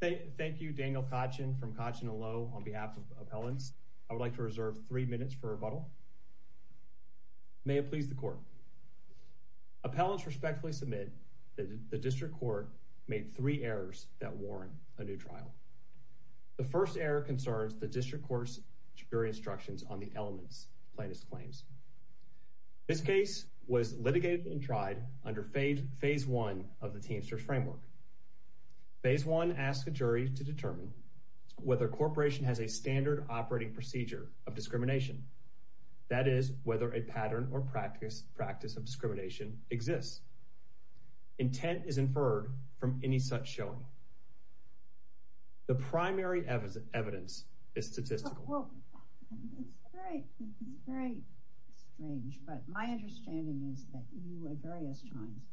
Thank you Daniel Kachin from Kachin & Lowe on behalf of appellants. I would like to reserve three minutes for rebuttal. May it please the court. Appellants respectfully submit that the district court made three errors that warrant a new trial. The first error concerns the district court's jury instructions on the elements plaintiff's claims. This case was litigated and tried under phase one of the Teamsters framework. Phase one asks a jury to determine whether corporation has a standard operating procedure of discrimination. That is whether a pattern or practice practice of discrimination exists. Intent is inferred from any such showing. The primary evidence is statistical. Well it's very strange but my understanding is that you at various times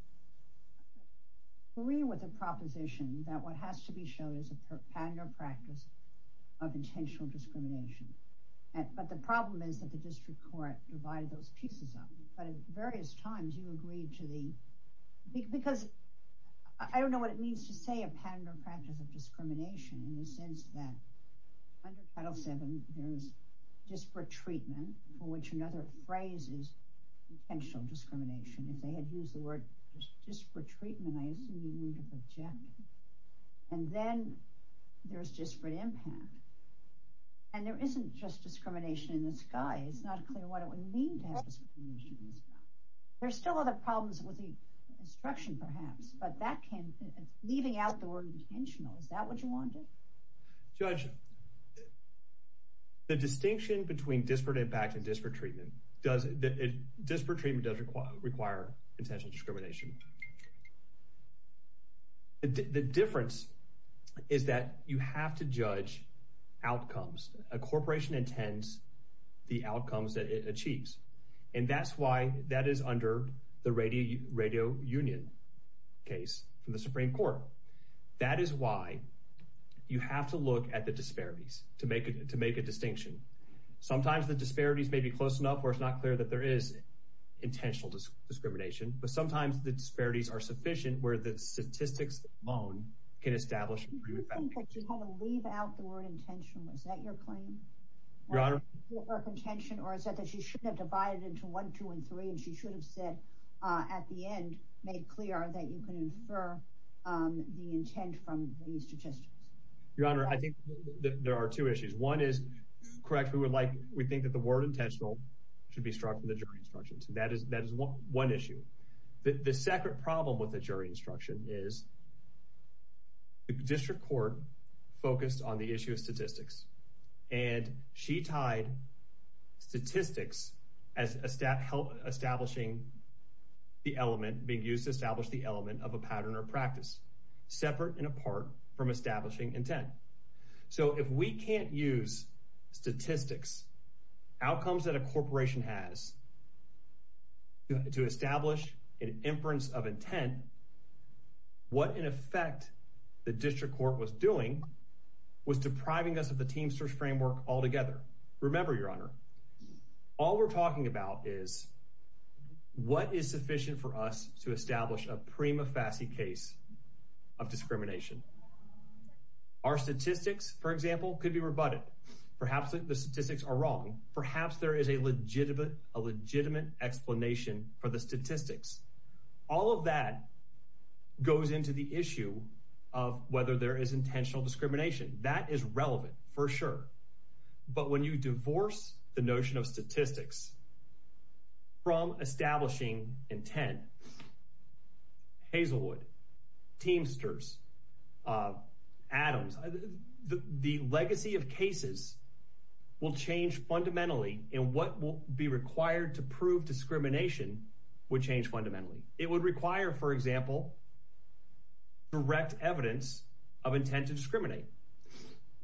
agree with the proposition that what has to be shown is a pattern or practice of intentional discrimination. But the problem is that the district court divided those pieces up. But at various times you agreed to the because I don't know what it means to say a pattern or practice of discrimination in the sense that under Title 7 there's disparate treatment for which another phrase is potential discrimination. If they had used the word just for treatment I assume you would have objected. And then there's disparate impact. And there isn't just discrimination in the sky. It's not clear what it would mean to have discrimination in the sky. There's still other problems with the instruction perhaps but that can leaving out the word intentional. Is that what you wanted? Judge, the distinction between disparate impact and disparate treatment does, disparate treatment does require intentional discrimination. The difference is that you have to judge outcomes. A corporation intends the outcomes that it achieves. And that's why that is under the radio union case from the Supreme Court. That is why you have to look at the disparities to make a distinction. Sometimes the disparities may be close enough where it's not clear that there is intentional discrimination. But sometimes the disparities are sufficient where the statistics alone can establish a pretty good fact. You think that you want to leave out the word intentional. Is that your claim? Your Honor. Or is it that she should have divided into 1, 2, and 3 and she should have said at the end, made clear that you can infer the intent from these statistics. Your Honor, I think there are two issues. One is, correct, we would like, we think that the word intentional should be struck from the jury instructions. That is one issue. The second problem with the jury instruction is the district court focused on the issue of statistics. And she tied statistics as establishing the element, being used to establish the element of a pattern or practice. Separate and apart from establishing intent. So if we can't use statistics, outcomes that a corporation has, to establish an inference of intent, what in effect the district court was doing was depriving us of the team search framework altogether. Remember, Your Honor, all we're talking about is what is sufficient for us to establish a prima facie case of discrimination. Our statistics, for example, could be rebutted. Perhaps the statistics are wrong. Perhaps there is a legitimate explanation for the statistics. All of that goes into the issue of whether there is intentional discrimination. That is relevant, for sure. But when you divorce the notion of statistics from establishing intent, Hazelwood, Teamsters, Adams, the legacy of cases will change fundamentally in what will be required to prove discrimination would change fundamentally. It would require, for example, direct evidence of intent to discriminate.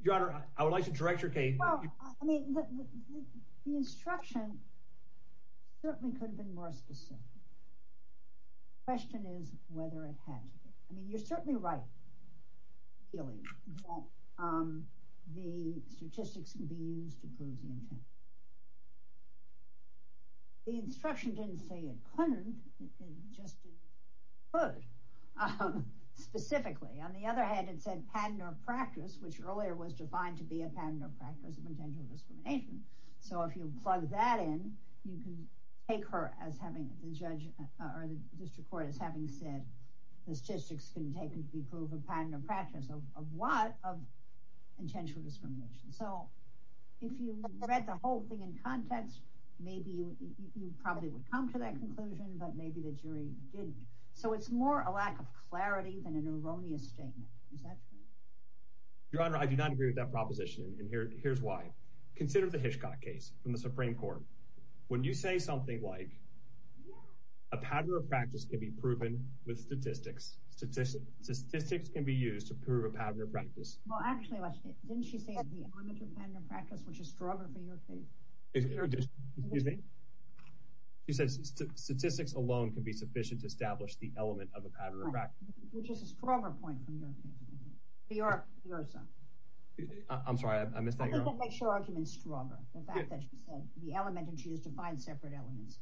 Your Honor, I would like to direct your case. Well, I mean, the instruction certainly could have been more specific. The question is whether it had to be. I mean, you're certainly right. The statistics can be used to prove the intent. The instruction didn't say it couldn't, it just didn't put it specifically. On the other hand, it said patent or practice, which earlier was defined to be a patent or practice of intentional discrimination. So if you plug that in, you can take her as having the judge or the district court as having said the statistics can be taken to prove a patent or practice of what? Of intentional discrimination. So if you read the whole thing in context, maybe you probably would come to that conclusion, but maybe the jury didn't. So it's more a lack of clarity than an erroneous statement. Is that true? Your Honor, I do not agree with that proposition. And here's why. Consider the Hitchcock case from the Supreme Court. When you say something like a pattern of practice can be proven with statistics, statistics can be used to prove a pattern of practice. Well, actually, didn't she say the element of pattern of practice, which is stronger for your case? Excuse me? She says statistics alone can be sufficient to establish the element of a pattern of practice. Which is a stronger point from your case. I'm sorry, I missed that, Your Honor. It doesn't make your argument stronger. The fact that she said the element and she has defined separate elements.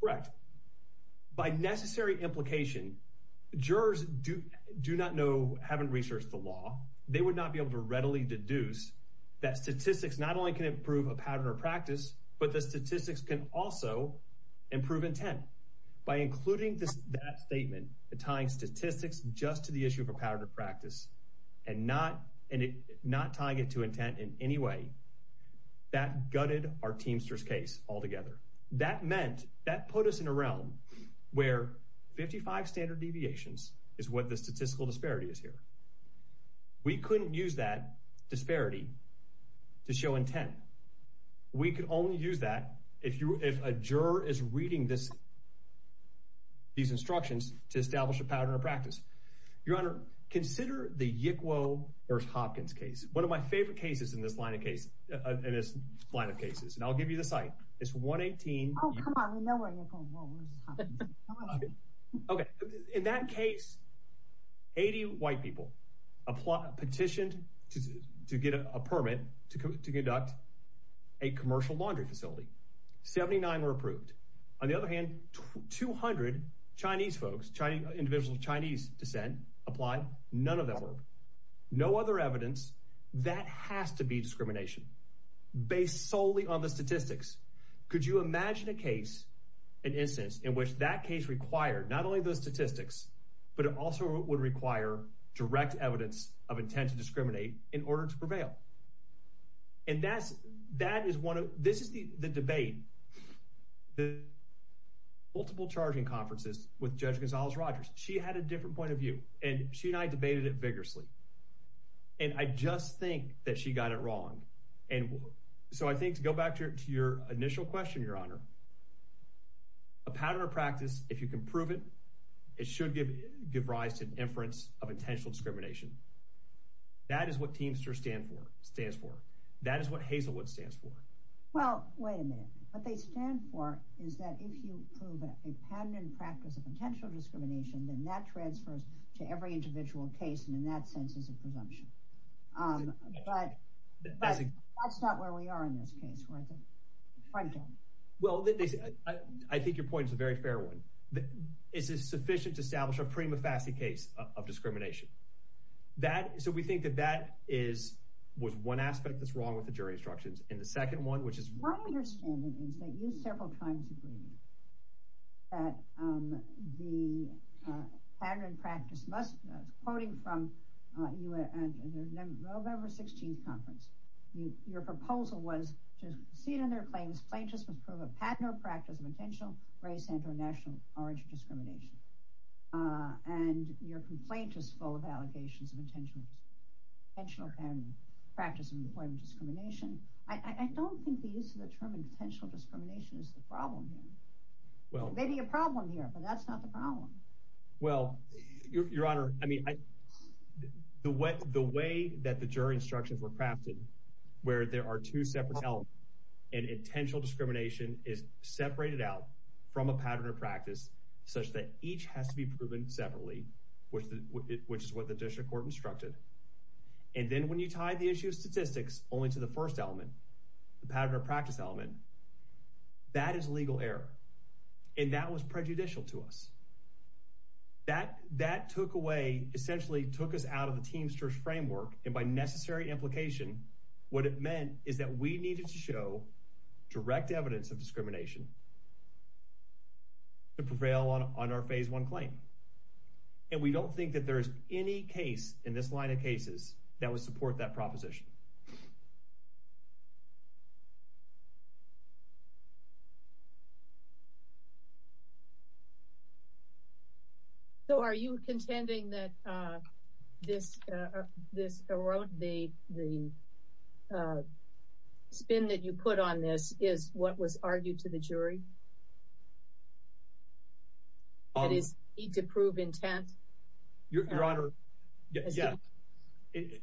Correct. By necessary implication, jurors do not know, haven't researched the law. They would not be able to readily deduce that statistics not only can improve a pattern of practice, but the statistics can also improve intent. By including that statement, tying statistics just to the issue of a pattern of practice and not tying it to intent in any way, that gutted our Teamsters case altogether. That meant, that put us in a realm where 55 standard deviations is what the statistical disparity is here. We couldn't use that disparity to show intent. We could only use that if a juror is reading these instructions to establish a pattern of practice. Your Honor, consider the Yick Wo vs. Hopkins case. One of my favorite cases in this line of cases. And I'll give you the site. It's 118. In that case, 80 white people petitioned to get a permit to conduct a commercial laundry facility. 79 were approved. On the other hand, 200 Chinese folks, individuals of Chinese descent applied. None of them were approved. No other evidence. That has to be discrimination. Based solely on the statistics. Could you imagine a case, an instance, in which that case required not only those statistics, but it also would require direct evidence of intent to discriminate in order to prevail? And that's, that is one of, this is the debate. Multiple charging conferences with Judge Gonzales-Rogers. She had a different point of view. And she and I debated it vigorously. And I just think that she got it wrong. And so I think, to go back to your initial question, Your Honor, a pattern of practice, if you can prove it, it should give rise to an inference of intentional discrimination. That is what Teamster stands for. That is what Hazelwood stands for. Well, wait a minute. What they stand for is that if you prove a pattern and practice of intentional discrimination, then that transfers to every individual case and in that sense is a presumption. But that's not where we are in this case. We're at the front end. Well, I think your point is a very fair one. It's sufficient to establish a prima facie case of discrimination. That, so we think that that is, was one aspect that's wrong with the jury instructions. And the second one, which is wrong. My understanding is that you several times agreed that the pattern and practice must, quoting from your November 16th conference, your proposal was to proceed on their claims. Plaintiffs must prove a pattern or practice of intentional race and or national origin discrimination. And your complaint is full of allegations of intentional discrimination and practice of employment discrimination. I don't think the use of the term intentional discrimination is the problem here. Well, maybe a problem here, but that's not the problem. Well, your Honor, I mean, the way that the jury instructions were crafted, where there are two separate elements and intentional discrimination is separated out from a pattern or practice such that each has to be proven separately, which is what the district court instructed. And then when you tie the issue of statistics only to the first element, the pattern or practice element, that is legal error. And that was prejudicial to us. That, that took away, essentially took us out of the Teamsters framework. And by necessary implication, what it meant is that we needed to show direct evidence of discrimination to prevail on our phase one claim. And we don't think that there's any case in this line of cases that would support that proposition. So are you contending that this, this, the spin that you put on this is what was argued to the jury? That is, need to prove intent? Your Honor. Yes.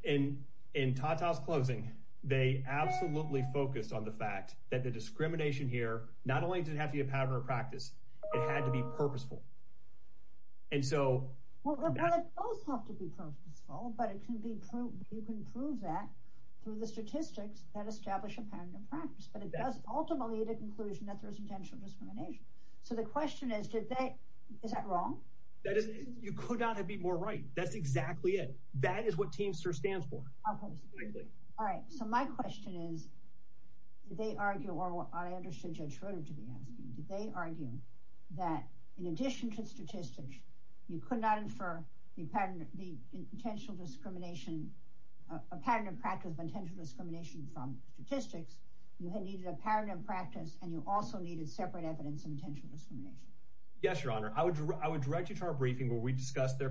And in Tata's closing, they absolutely focused on the fact that the discrimination here not only didn't have to be a pattern or practice, it had to be purposeful. And so both have to be purposeful, but it can be proved. You can prove that through the statistics that establish a pattern of practice, but it does ultimately the conclusion that there is intentional discrimination. So the question is, did they, is that wrong? That is, you could not have been more right. That's exactly it. That is what Teamster stands for. All right. So my question is, did they argue, or I understood Judge Schroeder to be asking, did they argue that in addition to statistics, you could not infer the pattern, the intentional discrimination, a pattern of practice of intentional discrimination from statistics. You had needed a pattern of practice and you also needed separate evidence of intentional discrimination. Yes, Your Honor. I would direct you to our briefing where we discussed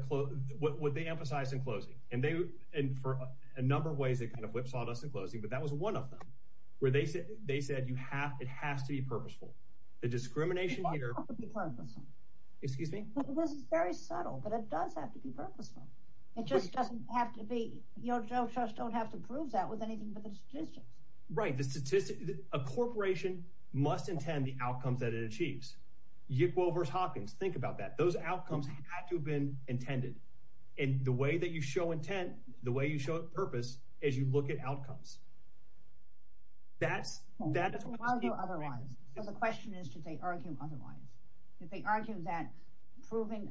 what they emphasized in closing. And for a number of ways, it kind of whipsawed us in closing, but that was one of them where they said it has to be purposeful. The discrimination here… It doesn't have to be purposeful. Excuse me? It was very subtle, but it does have to be purposeful. It just doesn't have to be, you know, judges don't have to prove that with anything but the statistics. Right. A corporation must intend the outcomes that it achieves. Yickwell versus Hawkins. Think about that. Those outcomes had to have been intended. And the way that you show intent, the way you show purpose, is you look at outcomes. That's… Why do otherwise? So the question is, did they argue otherwise? Did they argue that proving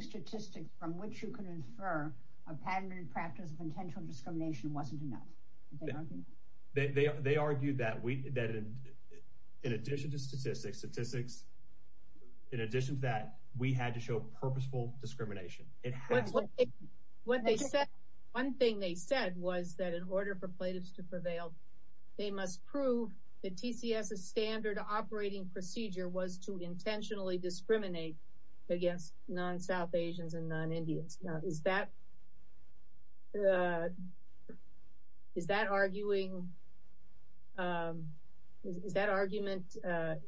statistics from which you could infer a pattern and practice of intentional discrimination wasn't enough? They argued that in addition to statistics, in addition to that, we had to show purposeful discrimination. What they said, one thing they said was that in order for plaintiffs to prevail, they must prove that TCS's standard operating procedure was to intentionally discriminate against non-South Asians and non-Indians. Now, is that… Is that arguing… Is that argument not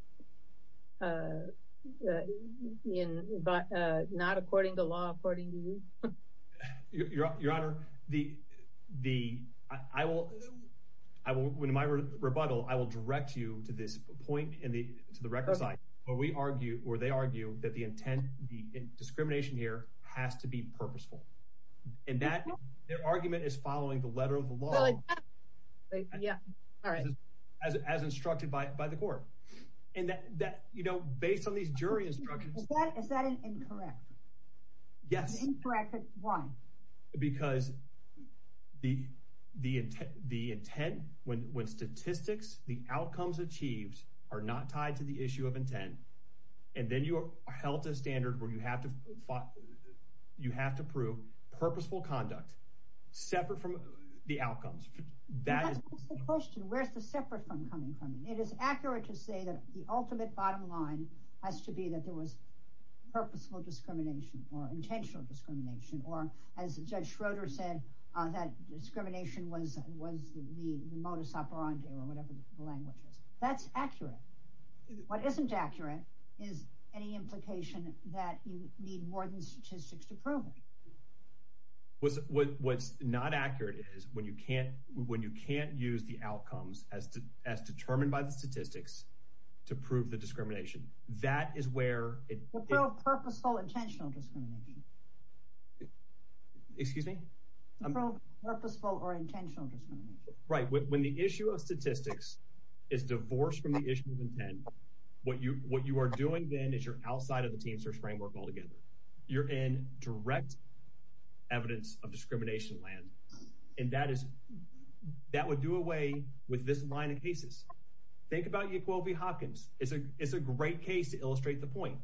according to law, according to you? Your Honor, the… I will… In my rebuttal, I will direct you to this point and to the record side. What we argue, or they argue, that the intent, the discrimination here has to be purposeful. And that… Their argument is following the letter of the law as instructed by the court. And that, you know, based on these jury instructions… Is that incorrect? Yes. Incorrect, but why? Because the intent, when statistics, the outcomes achieved are not tied to the issue of intent, and then you are held to a standard where you have to prove purposeful conduct separate from the outcomes. That is the question. Where is the separate from coming from? It is accurate to say that the ultimate bottom line has to be that there was purposeful discrimination or intentional discrimination or, as Judge Schroeder said, that discrimination was the modus operandi or whatever the language is. That's accurate. What isn't accurate is any implication that you need more than statistics to prove it. What's not accurate is when you can't use the outcomes as determined by the statistics to prove the discrimination. That is where it… Prove purposeful or intentional discrimination. Excuse me? Prove purposeful or intentional discrimination. Right. When the issue of statistics is divorced from the issue of intent, what you are doing then is you're outside of the team search framework altogether. You're in direct evidence of discrimination land, and that is… That would do away with this line of cases. Think about Yequil v. Hopkins. It's a great case to illustrate the point.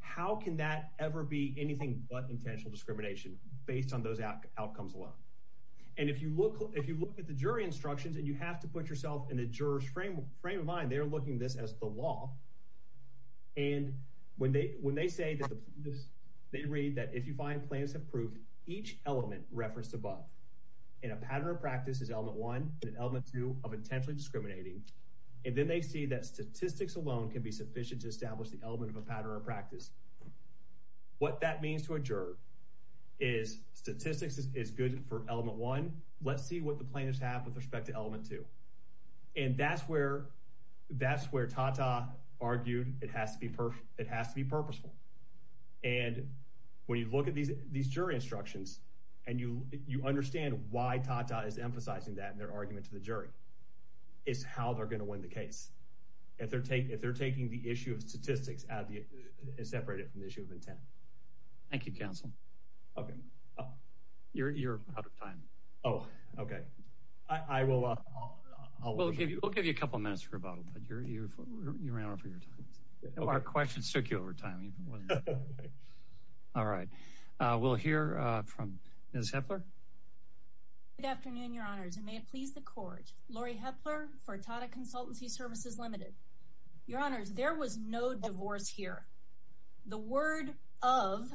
How can that ever be anything but intentional discrimination based on those outcomes alone? And if you look at the jury instructions and you have to put yourself in the jurors' frame of mind, they're looking at this as the law. And when they say that the… They read that if you find plans of proof, each element referenced above in a pattern of practice is element one and element two of intentionally discriminating. And then they see that statistics alone can be sufficient to establish the element of a pattern of practice. What that means to a juror is statistics is good for element one. Let's see what the plaintiffs have with respect to element two. And that's where Tata argued it has to be purposeful. And when you look at these jury instructions and you understand why Tata is emphasizing that in their argument to the jury, it's how they're going to win the case. If they're taking the issue of statistics and separate it from the issue of intent. Thank you, counsel. You're out of time. Oh, okay. I will… We'll give you a couple of minutes for rebuttal, but you ran over your time. Our questions took you over time. All right. We'll hear from Ms. Hepler. Good afternoon, your honors, and may it please the court. Laurie Hepler for Tata Consultancy Services Limited. Your honors, there was no divorce here. The word of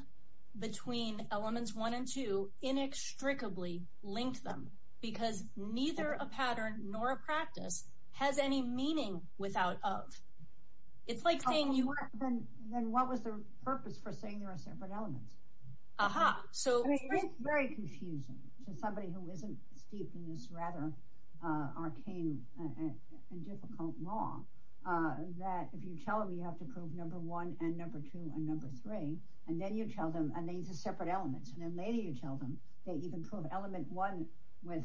between elements one and two inextricably linked them because neither a pattern nor a practice has any meaning without of. It's like saying you… Then what was the purpose for saying there are separate elements? Aha. So… It's very confusing to somebody who isn't steeped in this rather arcane and difficult law that if you tell them you have to prove number one and number two and number three, and then you tell them, and these are separate elements, and then later you tell them that you can prove element one with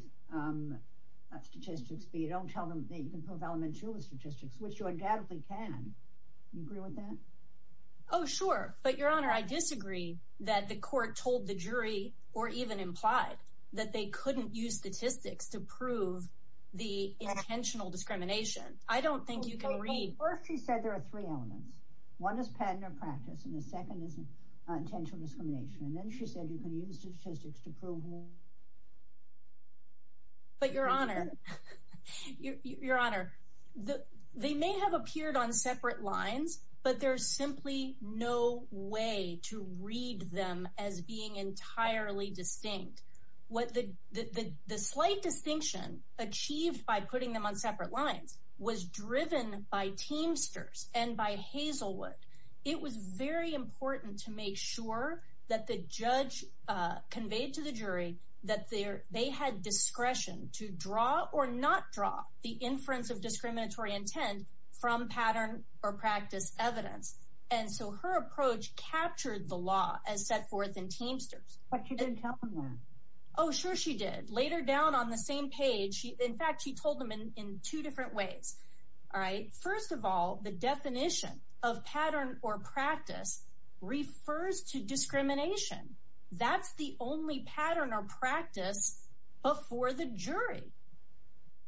statistics, but you don't tell them that you can prove element two with statistics, which you undoubtedly can. Do you agree with that? Oh, sure. But, your honor, I disagree that the court told the jury or even implied that they couldn't use statistics to prove the intentional discrimination. I don't think you can read… Well, first she said there are three elements. One is pattern or practice, and the second is intentional discrimination. And then she said you can use statistics to prove… But, your honor, your honor, they may have appeared on separate lines, but there's simply no way to read them as being entirely distinct. The slight distinction achieved by putting them on separate lines was driven by Teamsters and by Hazelwood. It was very important to make sure that the judge conveyed to the jury that they had discretion to draw or not draw the inference of discriminatory intent from pattern or practice evidence. And so her approach captured the law as set forth in Teamsters. But she didn't tell them that. Oh, sure she did. Later down on the same page, in fact, she told them in two different ways. First of all, the definition of pattern or practice refers to discrimination. That's the only pattern or practice before the jury.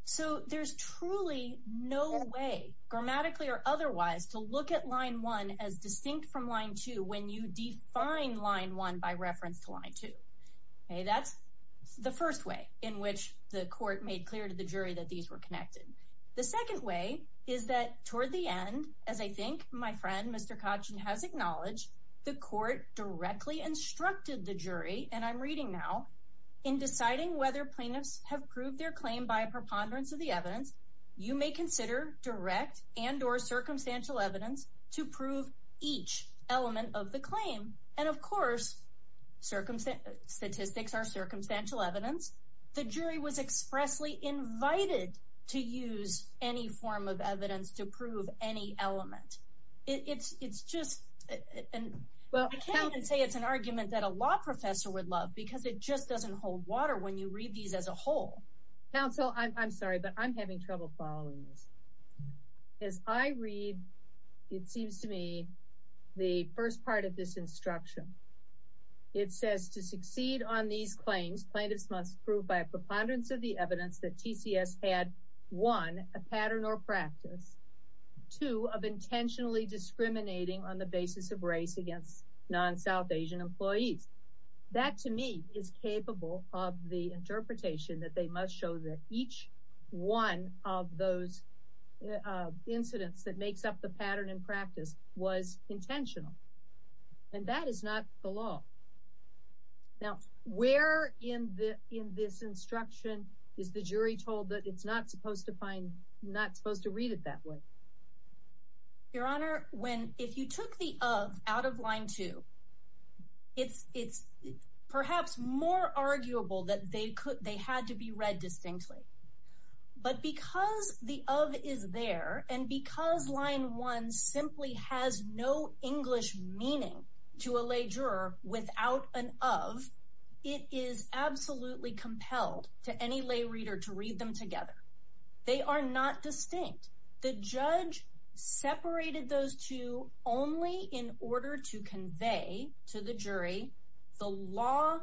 So there's truly no way, grammatically or otherwise, to look at Line 1 as distinct from Line 2 when you define Line 1 by reference to Line 2. That's the first way in which the court made clear to the jury that these were connected. The second way is that toward the end, as I think my friend Mr. Kotchin has acknowledged, the court directly instructed the jury, and I'm reading now, in deciding whether plaintiffs have proved their claim by a preponderance of the evidence, you may consider direct and or circumstantial evidence to prove each element of the claim. And of course, statistics are circumstantial evidence. The jury was expressly invited to use any form of evidence to prove any element. I can't even say it's an argument that a law professor would love because it just doesn't hold water when you read these as a whole. Counsel, I'm sorry, but I'm having trouble following this. As I read, it seems to me, the first part of this instruction, it says, to succeed on these claims, plaintiffs must prove by a preponderance of the evidence that TCS had, one, a pattern or practice, two, of intentionally discriminating on the basis of race against non-South Asian employees. That, to me, is capable of the interpretation that they must show that each one of those incidents that makes up the pattern and practice was intentional. And that is not the law. Now, where in this instruction is the jury told that it's not supposed to read it that way? Your Honor, if you took the of out of line two, it's perhaps more arguable that they had to be read distinctly. But because the of is there, and because line one simply has no English meaning to a lay juror without an of, it is absolutely compelled to any lay reader to read them together. They are not distinct. The judge separated those two only in order to convey to the jury, the law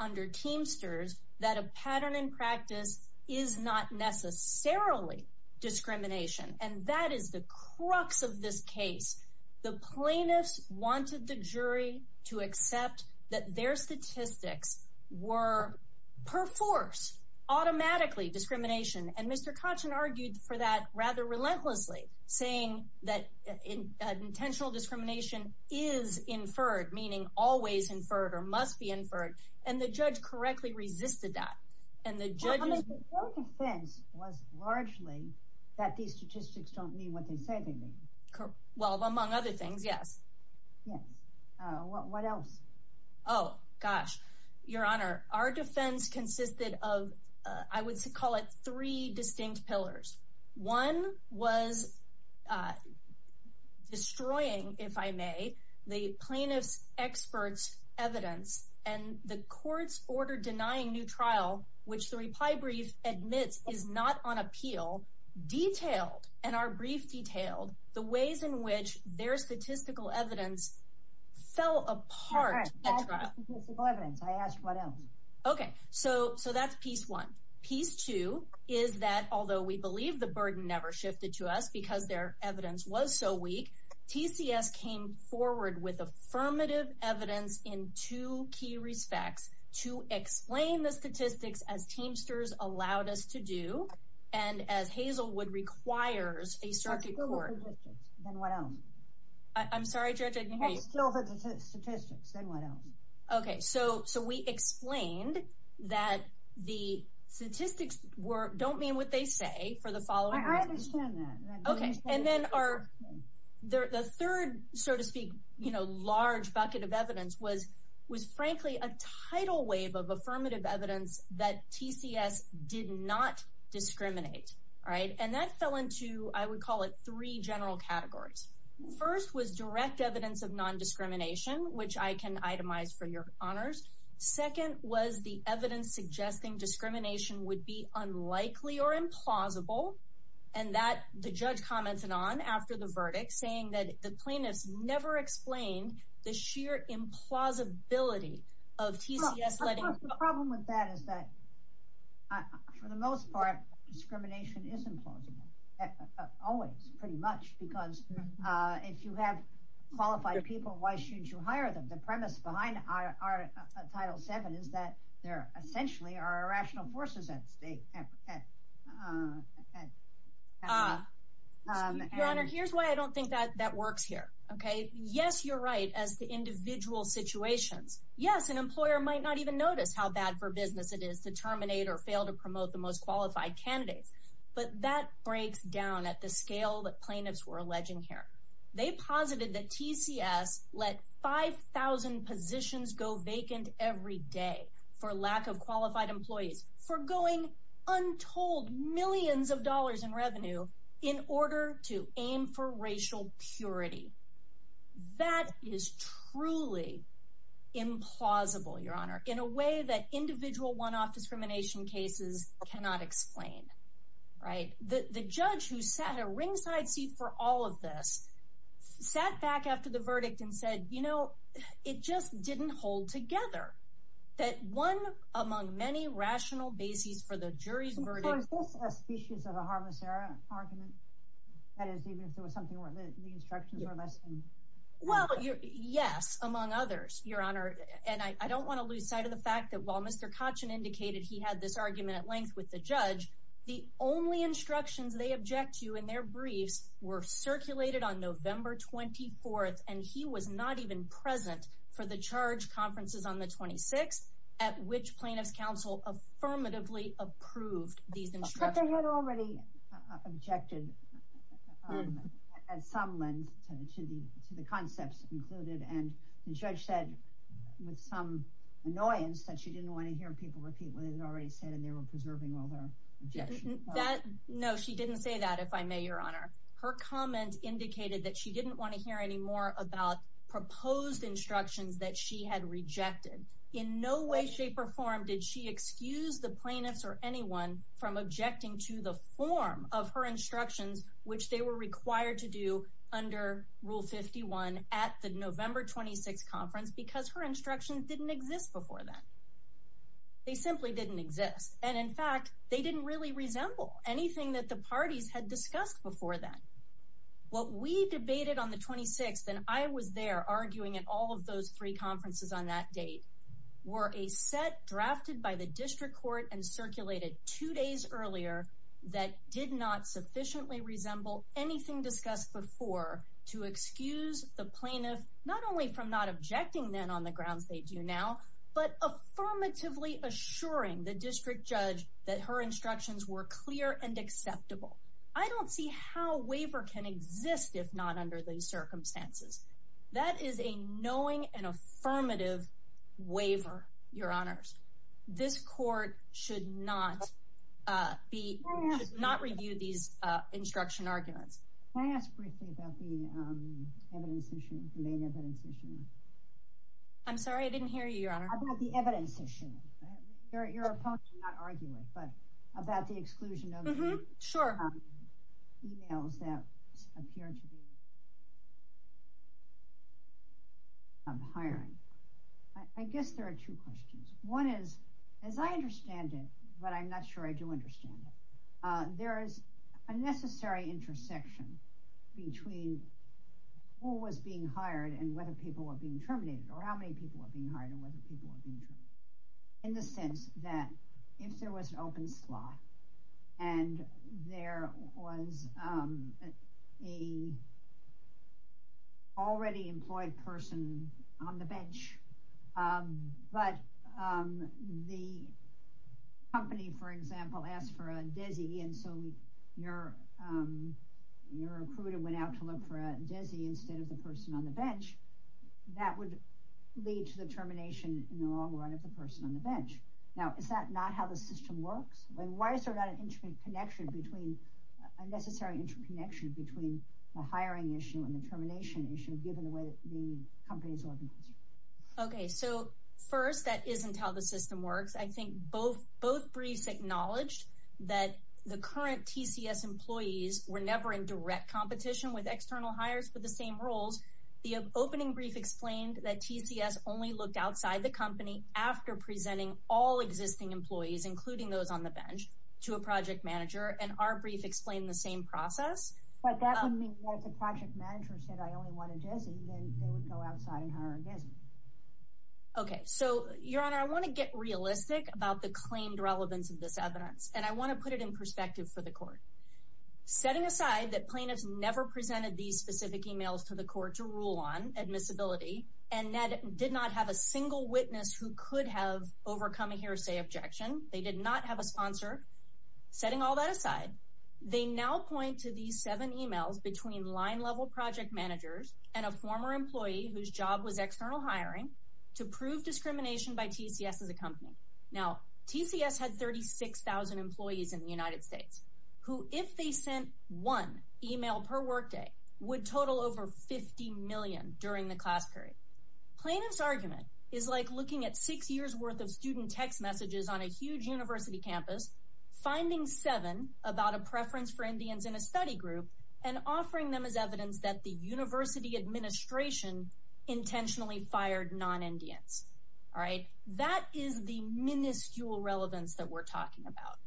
under Teamsters, that a pattern and practice is not necessarily discrimination. And that is the crux of this case. The plaintiffs wanted the jury to accept that their statistics were, per force, automatically discrimination. And Mr. Kachin argued for that rather relentlessly, saying that intentional discrimination is inferred, meaning always inferred or must be inferred. And the judge correctly resisted that. Your defense was largely that these statistics don't mean what they say they mean. Well, among other things, yes. Yes. What else? Oh, gosh. Your Honor, our defense consisted of, I would call it, three distinct pillars. One was destroying, if I may, the plaintiff's expert's evidence, and the court's order denying new trial, which the reply brief admits is not on appeal, detailed, and our brief detailed, the ways in which their statistical evidence fell apart at trial. I asked what else. Okay. So that's piece one. Piece two is that, although we believe the burden never shifted to us because their evidence was so weak, TCS came forward with affirmative evidence in two key respects to explain the statistics as Teamsters allowed us to do, and as Hazelwood requires a circuit court. Then what else? I'm sorry, Judge, I didn't hear you. Still the statistics. Then what else? Okay. So we explained that the statistics don't mean what they say for the following reasons. I understand that. Okay. And then the third, so to speak, large bucket of evidence was, frankly, a tidal wave of affirmative evidence that TCS did not discriminate. And that fell into, I would call it, three general categories. First was direct evidence of nondiscrimination, which I can itemize for your honors. Second was the evidence suggesting discrimination would be unlikely or implausible. And that the judge commented on after the verdict, saying that the plaintiffs never explained the sheer implausibility of TCS letting- The problem with that is that, for the most part, discrimination is implausible. Always, pretty much, because if you have qualified people, why shouldn't you hire them? The premise behind Title VII is that there essentially are irrational forces at stake. Your Honor, here's why I don't think that works here. Yes, you're right, as to individual situations. Yes, an employer might not even notice how bad for business it is to terminate or fail to promote the most qualified candidates. But that breaks down at the scale that plaintiffs were alleging here. They posited that TCS let 5,000 positions go vacant every day for lack of qualified employees. Forgoing untold millions of dollars in revenue in order to aim for racial purity. That is truly implausible, Your Honor, in a way that individual one-off discrimination cases cannot explain. The judge who sat in a ringside seat for all of this sat back after the verdict and said, you know, it just didn't hold together. That one among many rational bases for the jury's verdict- So is this a species of a harmless argument? That is, even if there was something where the instructions were less than- Well, yes, among others, Your Honor. And I don't want to lose sight of the fact that while Mr. Kachin indicated he had this argument at length with the judge, the only instructions they object to in their briefs were circulated on November 24th, and he was not even present for the charge conferences on the 26th, at which plaintiffs' counsel affirmatively approved these instructions. But they had already objected at some length to the concepts included. And the judge said, with some annoyance, that she didn't want to hear people repeat what they had already said, and they were preserving all their objections. No, she didn't say that, if I may, Your Honor. Her comment indicated that she didn't want to hear any more about proposed instructions that she had rejected. In no way, shape, or form did she excuse the plaintiffs or anyone from objecting to the form of her instructions, which they were required to do under Rule 51 at the November 26th conference, because her instructions didn't exist before then. They simply didn't exist. And in fact, they didn't really resemble anything that the parties had discussed before then. What we debated on the 26th, and I was there arguing at all of those three conferences on that date, were a set drafted by the district court and circulated two days earlier that did not sufficiently resemble anything discussed before to excuse the plaintiff, not only from not objecting then on the grounds they do now, but affirmatively assuring the district judge that her instructions were clear and acceptable. I don't see how a waiver can exist if not under these circumstances. That is a knowing and affirmative waiver, Your Honors. This court should not review these instruction arguments. Can I ask briefly about the main evidence issue? I'm sorry, I didn't hear you, Your Honor. About the evidence issue. Your opponent is not arguing, but about the exclusion of emails that appear to be of hiring. I guess there are two questions. One is, as I understand it, but I'm not sure I do understand it, there is a necessary intersection between who was being hired and whether people were being terminated, or how many people were being hired and whether people were being terminated, in the sense that if there was an open slot and there was an already employed person on the bench, but the company, for example, asked for a desi, and so your recruiter went out to look for a desi instead of the person on the bench, that would lead to the termination in the long run of the person on the bench. Now, is that not how the system works? Why is there not a necessary interconnection between the hiring issue and the termination issue, given the way the company is organized? Okay, so first, that isn't how the system works. I think both briefs acknowledge that the current TCS employees were never in direct competition with external hires with the same roles. The opening brief explained that TCS only looked outside the company after presenting all existing employees, including those on the bench, to a project manager, and our brief explained the same process. But that would mean that if the project manager said, I only want a desi, then they would go outside and hire a desi. Okay, so, Your Honor, I want to get realistic about the claimed relevance of this evidence, setting aside that plaintiffs never presented these specific emails to the court to rule on admissibility, and did not have a single witness who could have overcome a hearsay objection. They did not have a sponsor. Setting all that aside, they now point to these seven emails between line-level project managers and a former employee whose job was external hiring to prove discrimination by TCS as a company. Now, TCS had 36,000 employees in the United States, who, if they sent one email per workday, would total over 50 million during the class period. Plaintiff's argument is like looking at six years' worth of student text messages on a huge university campus, finding seven about a preference for Indians in a study group, and offering them as evidence that the university administration intentionally fired non-Indians. All right? That is the minuscule relevance that we're talking about.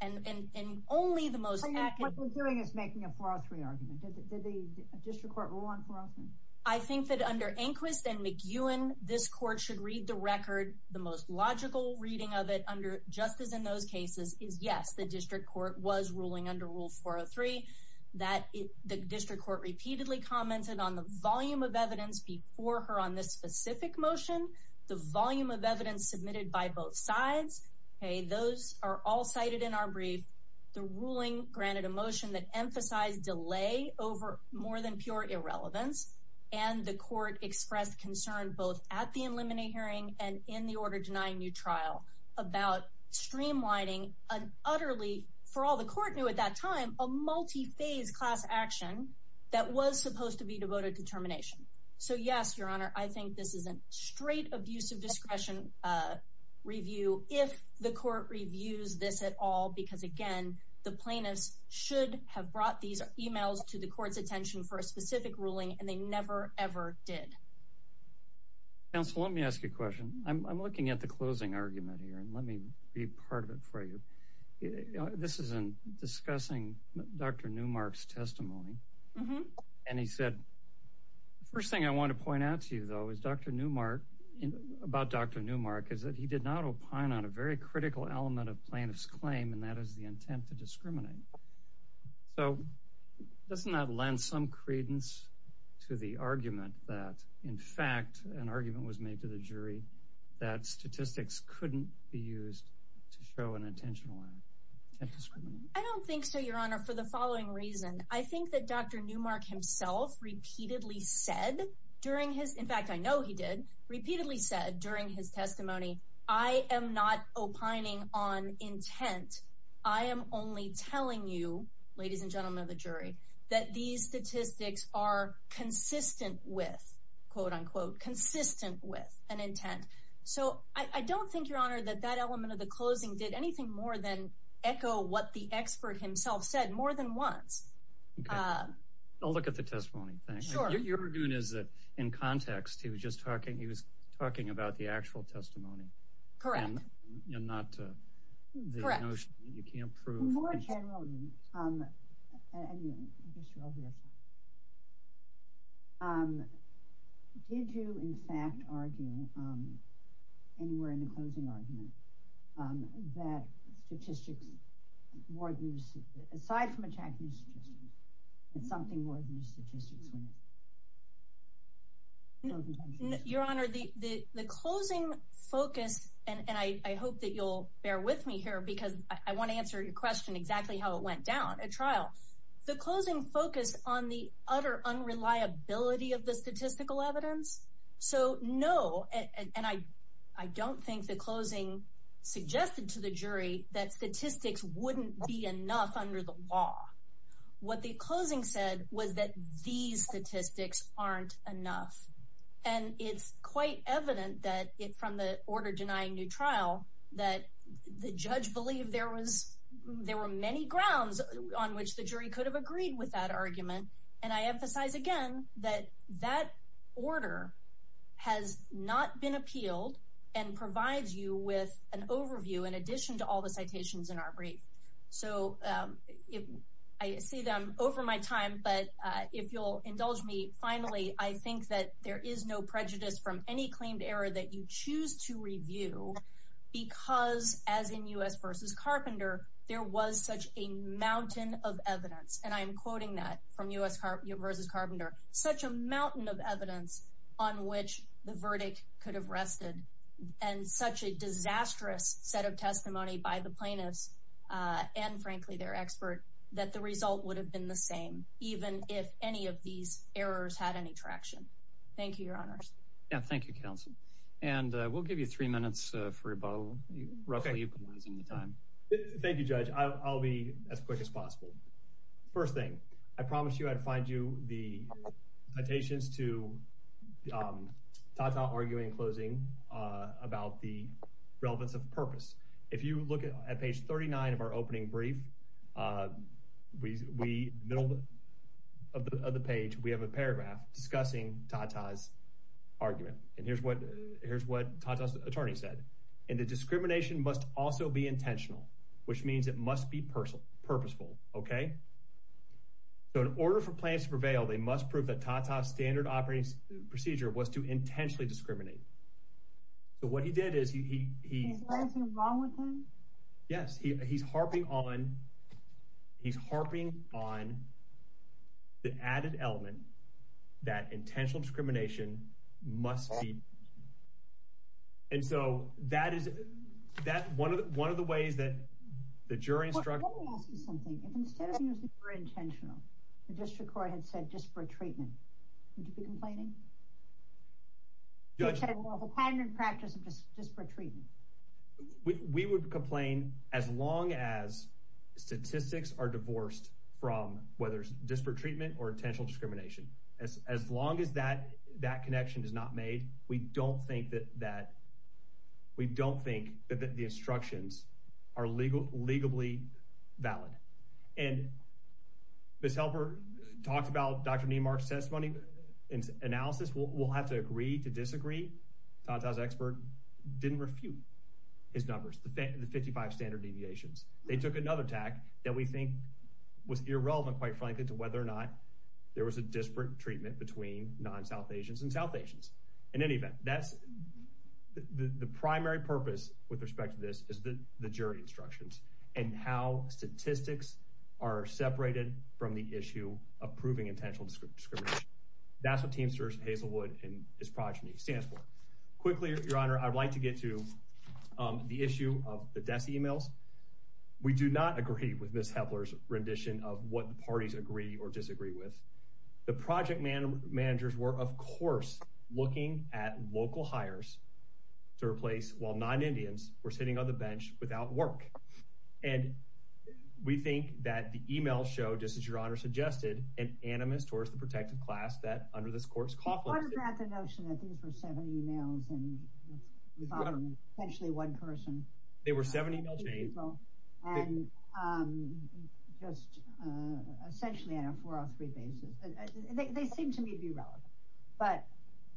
And only the most accurate... What we're doing is making a 403 argument. Did the district court rule on 403? I think that under Enquist and McEwen, this court should read the record. The most logical reading of it, just as in those cases, is yes, the district court was ruling under Rule 403. The district court repeatedly commented on the volume of evidence before her on this specific motion, the volume of evidence submitted by both sides. Those are all cited in our brief. The ruling granted a motion that emphasized delay over more than pure irrelevance, and the court expressed concern both at the preliminary hearing and in the order denying new trial about streamlining an utterly, for all the court knew at that time, a multi-phase class action that was supposed to be devoted to termination. So yes, Your Honor, I think this is a straight abusive discretion review, if the court reviews this at all, because again, the plaintiffs should have brought these emails to the court's attention for a specific ruling, and they never, ever did. Counsel, let me ask you a question. I'm looking at the closing argument here, and let me read part of it for you. This is in discussing Dr. Newmark's testimony, and he said, the first thing I want to point out to you, though, is Dr. Newmark, about Dr. Newmark, is that he did not opine on a very critical element of plaintiff's claim, and that is the intent to discriminate. So, doesn't that lend some credence to the argument that, in fact, an argument was made to the jury that statistics couldn't be used to show an intentional act of discrimination? I don't think so, Your Honor, for the following reason. I think that Dr. Newmark himself repeatedly said during his, in fact, I know he did, repeatedly said during his testimony, I am not opining on intent. I am only telling you, ladies and gentlemen of the jury, that these statistics are consistent with, quote, unquote, consistent with an intent. So, I don't think, Your Honor, that that element of the closing did anything more than echo what the expert himself said more than once. I'll look at the testimony. Sure. Your argument is that, in context, he was just talking, he was talking about the actual testimony. Correct. And not the notion that you can't prove. Correct. More generally, did you, in fact, argue anywhere in the closing argument that statistics, aside from attacking statistics, that something more than just statistics were necessary? No, Your Honor, the closing focus, and I hope that you'll bear with me here, because I want to answer your question exactly how it went down at trial. The closing focused on the utter unreliability of the statistical evidence. So, no, and I don't think the closing suggested to the jury that statistics wouldn't be enough under the law. What the closing said was that these statistics aren't enough. And it's quite evident that, from the order denying new trial, that the judge believed there was, there were many grounds on which the jury could have agreed with that argument. And I emphasize again that that order has not been appealed and provides you with an overview, in addition to all the citations in our brief. So, I see them over my time, but if you'll indulge me, finally, I think that there is no prejudice from any claimed error that you choose to review, because, as in U.S. v. Carpenter, there was such a mountain of evidence, and I am quoting that from U.S. v. Carpenter, such a mountain of evidence on which the verdict could have rested, and such a disastrous set of testimony by the plaintiffs and, frankly, their expert, that the result would have been the same, even if any of these errors had any traction. Thank you, Your Honors. Yeah, thank you, Counsel. And we'll give you three minutes for about roughly utilizing the time. Thank you, Judge. I'll be as quick as possible. First thing, I promised you I'd find you the citations to Tata arguing in closing about the relevance of purpose. If you look at page 39 of our opening brief, in the middle of the page, we have a paragraph discussing Tata's argument. And here's what Tata's attorney said. And the discrimination must also be intentional, which means it must be purposeful, okay? So in order for plaintiffs to prevail, they must prove that Tata's standard operating procedure was to intentionally discriminate. So what he did is he— Is there something wrong with him? Yes. He's harping on the added element that intentional discrimination must be— And so that is—one of the ways that the jury instruct— Well, let me ask you something. If instead of using the word intentional, the district court had said disparate treatment, would you be complaining? Judge— The standard practice of disparate treatment. We would complain as long as statistics are divorced from whether it's disparate treatment or intentional discrimination. As long as that connection is not made, we don't think that the instructions are legally valid. And Ms. Helper talked about Dr. Niemark's testimony and analysis. We'll have to agree to disagree. Tata's expert didn't refute his numbers, the 55 standard deviations. They took another tack that we think was irrelevant, quite frankly, to whether or not there was a disparate treatment between non-South Asians and South Asians. In any event, that's—the primary purpose with respect to this is the jury instructions and how statistics are separated from the issue of proving intentional discrimination. That's what Teamsters, Hazelwood, and his progeny stands for. Quickly, Your Honor, I'd like to get to the issue of the desk emails. We do not agree with Ms. Hepler's rendition of what the parties agree or disagree with. The project managers were, of course, looking at local hires to replace while non-Indians were sitting on the bench without work. And we think that the emails show, just as Your Honor suggested, an animus towards the protective class that under this court's confluence— They were seven emails and essentially one person. They were seven email chains. And just essentially on a four-on-three basis. They seem to me to be relevant. But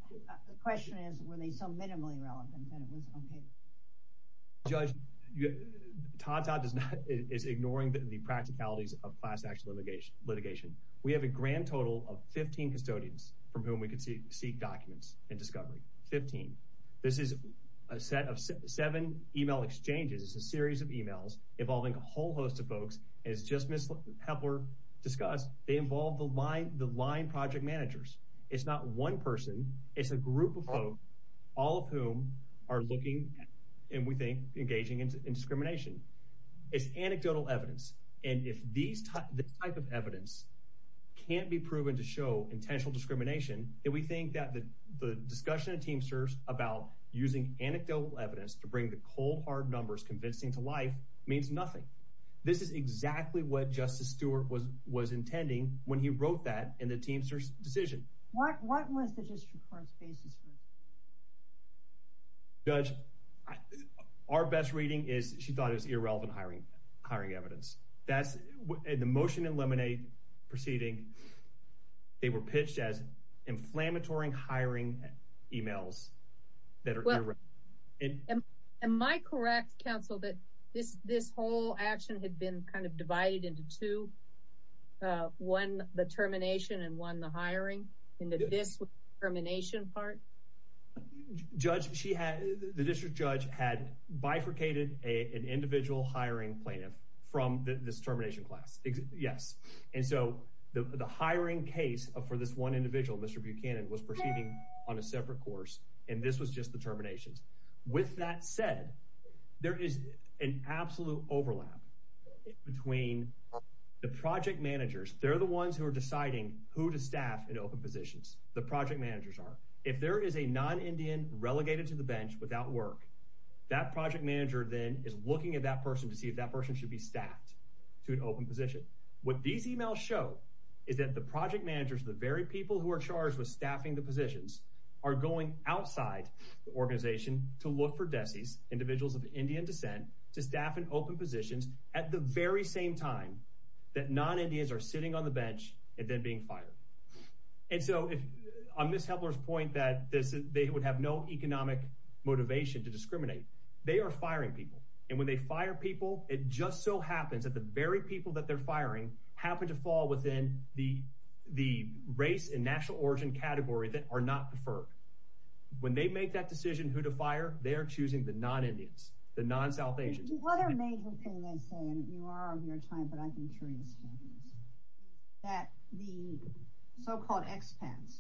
the question is, were they so minimally relevant that it was okay? Judge, Tata is ignoring the practicalities of class-action litigation. We have a grand total of 15 custodians from whom we can seek documents and discovery. Fifteen. This is a set of seven email exchanges. It's a series of emails involving a whole host of folks. As just Ms. Hepler discussed, they involve the line project managers. It's not one person. It's a group of folks, all of whom are looking and, we think, engaging in discrimination. It's anecdotal evidence. And if this type of evidence can't be proven to show intentional discrimination, then we think that the discussion at Teamsters about using anecdotal evidence to bring the cold, hard numbers convincing to life means nothing. This is exactly what Justice Stewart was intending when he wrote that in the Teamsters decision. What was the district court's basis for this? Judge, our best reading is she thought it was irrelevant hiring evidence. In the motion and lemonade proceeding, they were pitched as inflammatory hiring emails that are irrelevant. Am I correct, counsel, that this whole action had been kind of divided into two, one the termination and one the hiring, into this termination part? Judge, the district judge had bifurcated an individual hiring plaintiff from this termination class, yes. And so the hiring case for this one individual, Mr. Buchanan, was proceeding on a separate course, and this was just the terminations. With that said, there is an absolute overlap between the project managers. They're the ones who are deciding who to staff in open positions. The project managers are. If there is a non-Indian relegated to the bench without work, that project manager then is looking at that person to see if that person should be staffed to an open position. What these emails show is that the project managers, the very people who are charged with staffing the positions, are going outside the organization to look for desis, individuals of Indian descent, to staff in open positions at the very same time that non-Indians are sitting on the bench and then being fired. And so, on Ms. Hepler's point that they would have no economic motivation to discriminate, they are firing people. And when they fire people, it just so happens that the very people that they're firing happen to fall within the race and national origin category that are not preferred. When they make that decision who to fire, they are choosing the non-Indians, the non-South Asians. The other major thing they say, and you are of your time, but I'm curious, that the so-called expats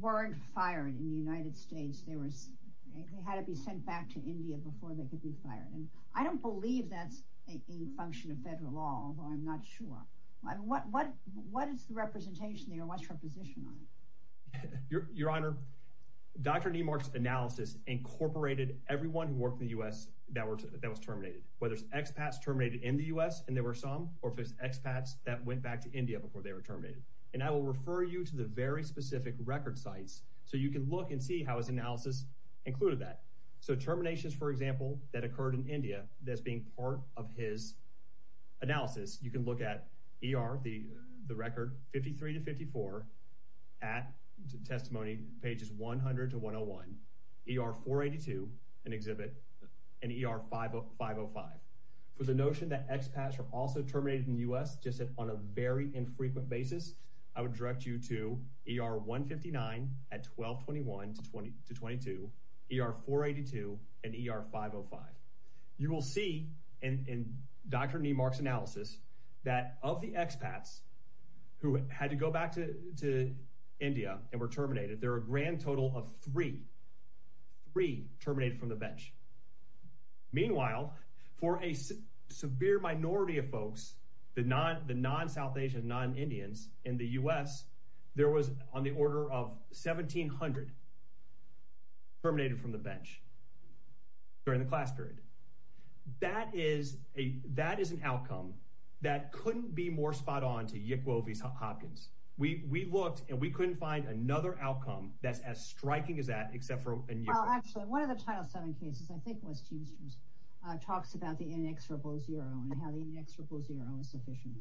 weren't fired in the United States. They had to be sent back to India before they could be fired. And I don't believe that's a function of federal law, although I'm not sure. What is the representation there? What's her position on it? Your Honor, Dr. Niemark's analysis incorporated everyone who worked in the U.S. that was terminated. Whether it's expats terminated in the U.S. and there were some, or if it's expats that went back to India before they were terminated. And I will refer you to the very specific record sites so you can look and see how his analysis included that. So terminations, for example, that occurred in India, that's being part of his analysis. You can look at ER, the record, 53 to 54, at testimony pages 100 to 101, ER 482, an exhibit, and ER 505. For the notion that expats were also terminated in the U.S. just on a very infrequent basis, I would direct you to ER 159 at 1221 to 22, ER 482, and ER 505. You will see in Dr. Niemark's analysis that of the expats who had to go back to India and were terminated, there are a grand total of three, three terminated from the bench. Meanwhile, for a severe minority of folks, the non-South Asian, non-Indians in the U.S., there was on the order of 1,700 terminated from the bench during the class period. That is an outcome that couldn't be more spot on to Yick Wovis Hopkins. We looked, and we couldn't find another outcome that's as striking as that except for in Yick Wovis. Actually, one of the Title VII cases I think was Teamsters talks about the NX000 and how the NX000 is sufficient.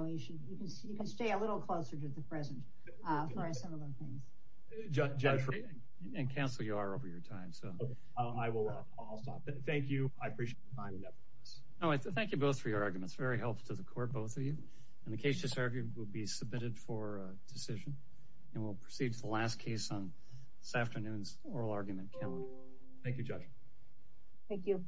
You can stay a little closer to the present for similar things. Judge, and Counsel, you are over your time. I will stop. Thank you. I appreciate your time and effort. Thank you both for your arguments. Very helpful to the court, both of you. The case to serve you will be submitted for decision, and we'll proceed to the last case on this afternoon's oral argument calendar. Thank you, Judge. Thank you.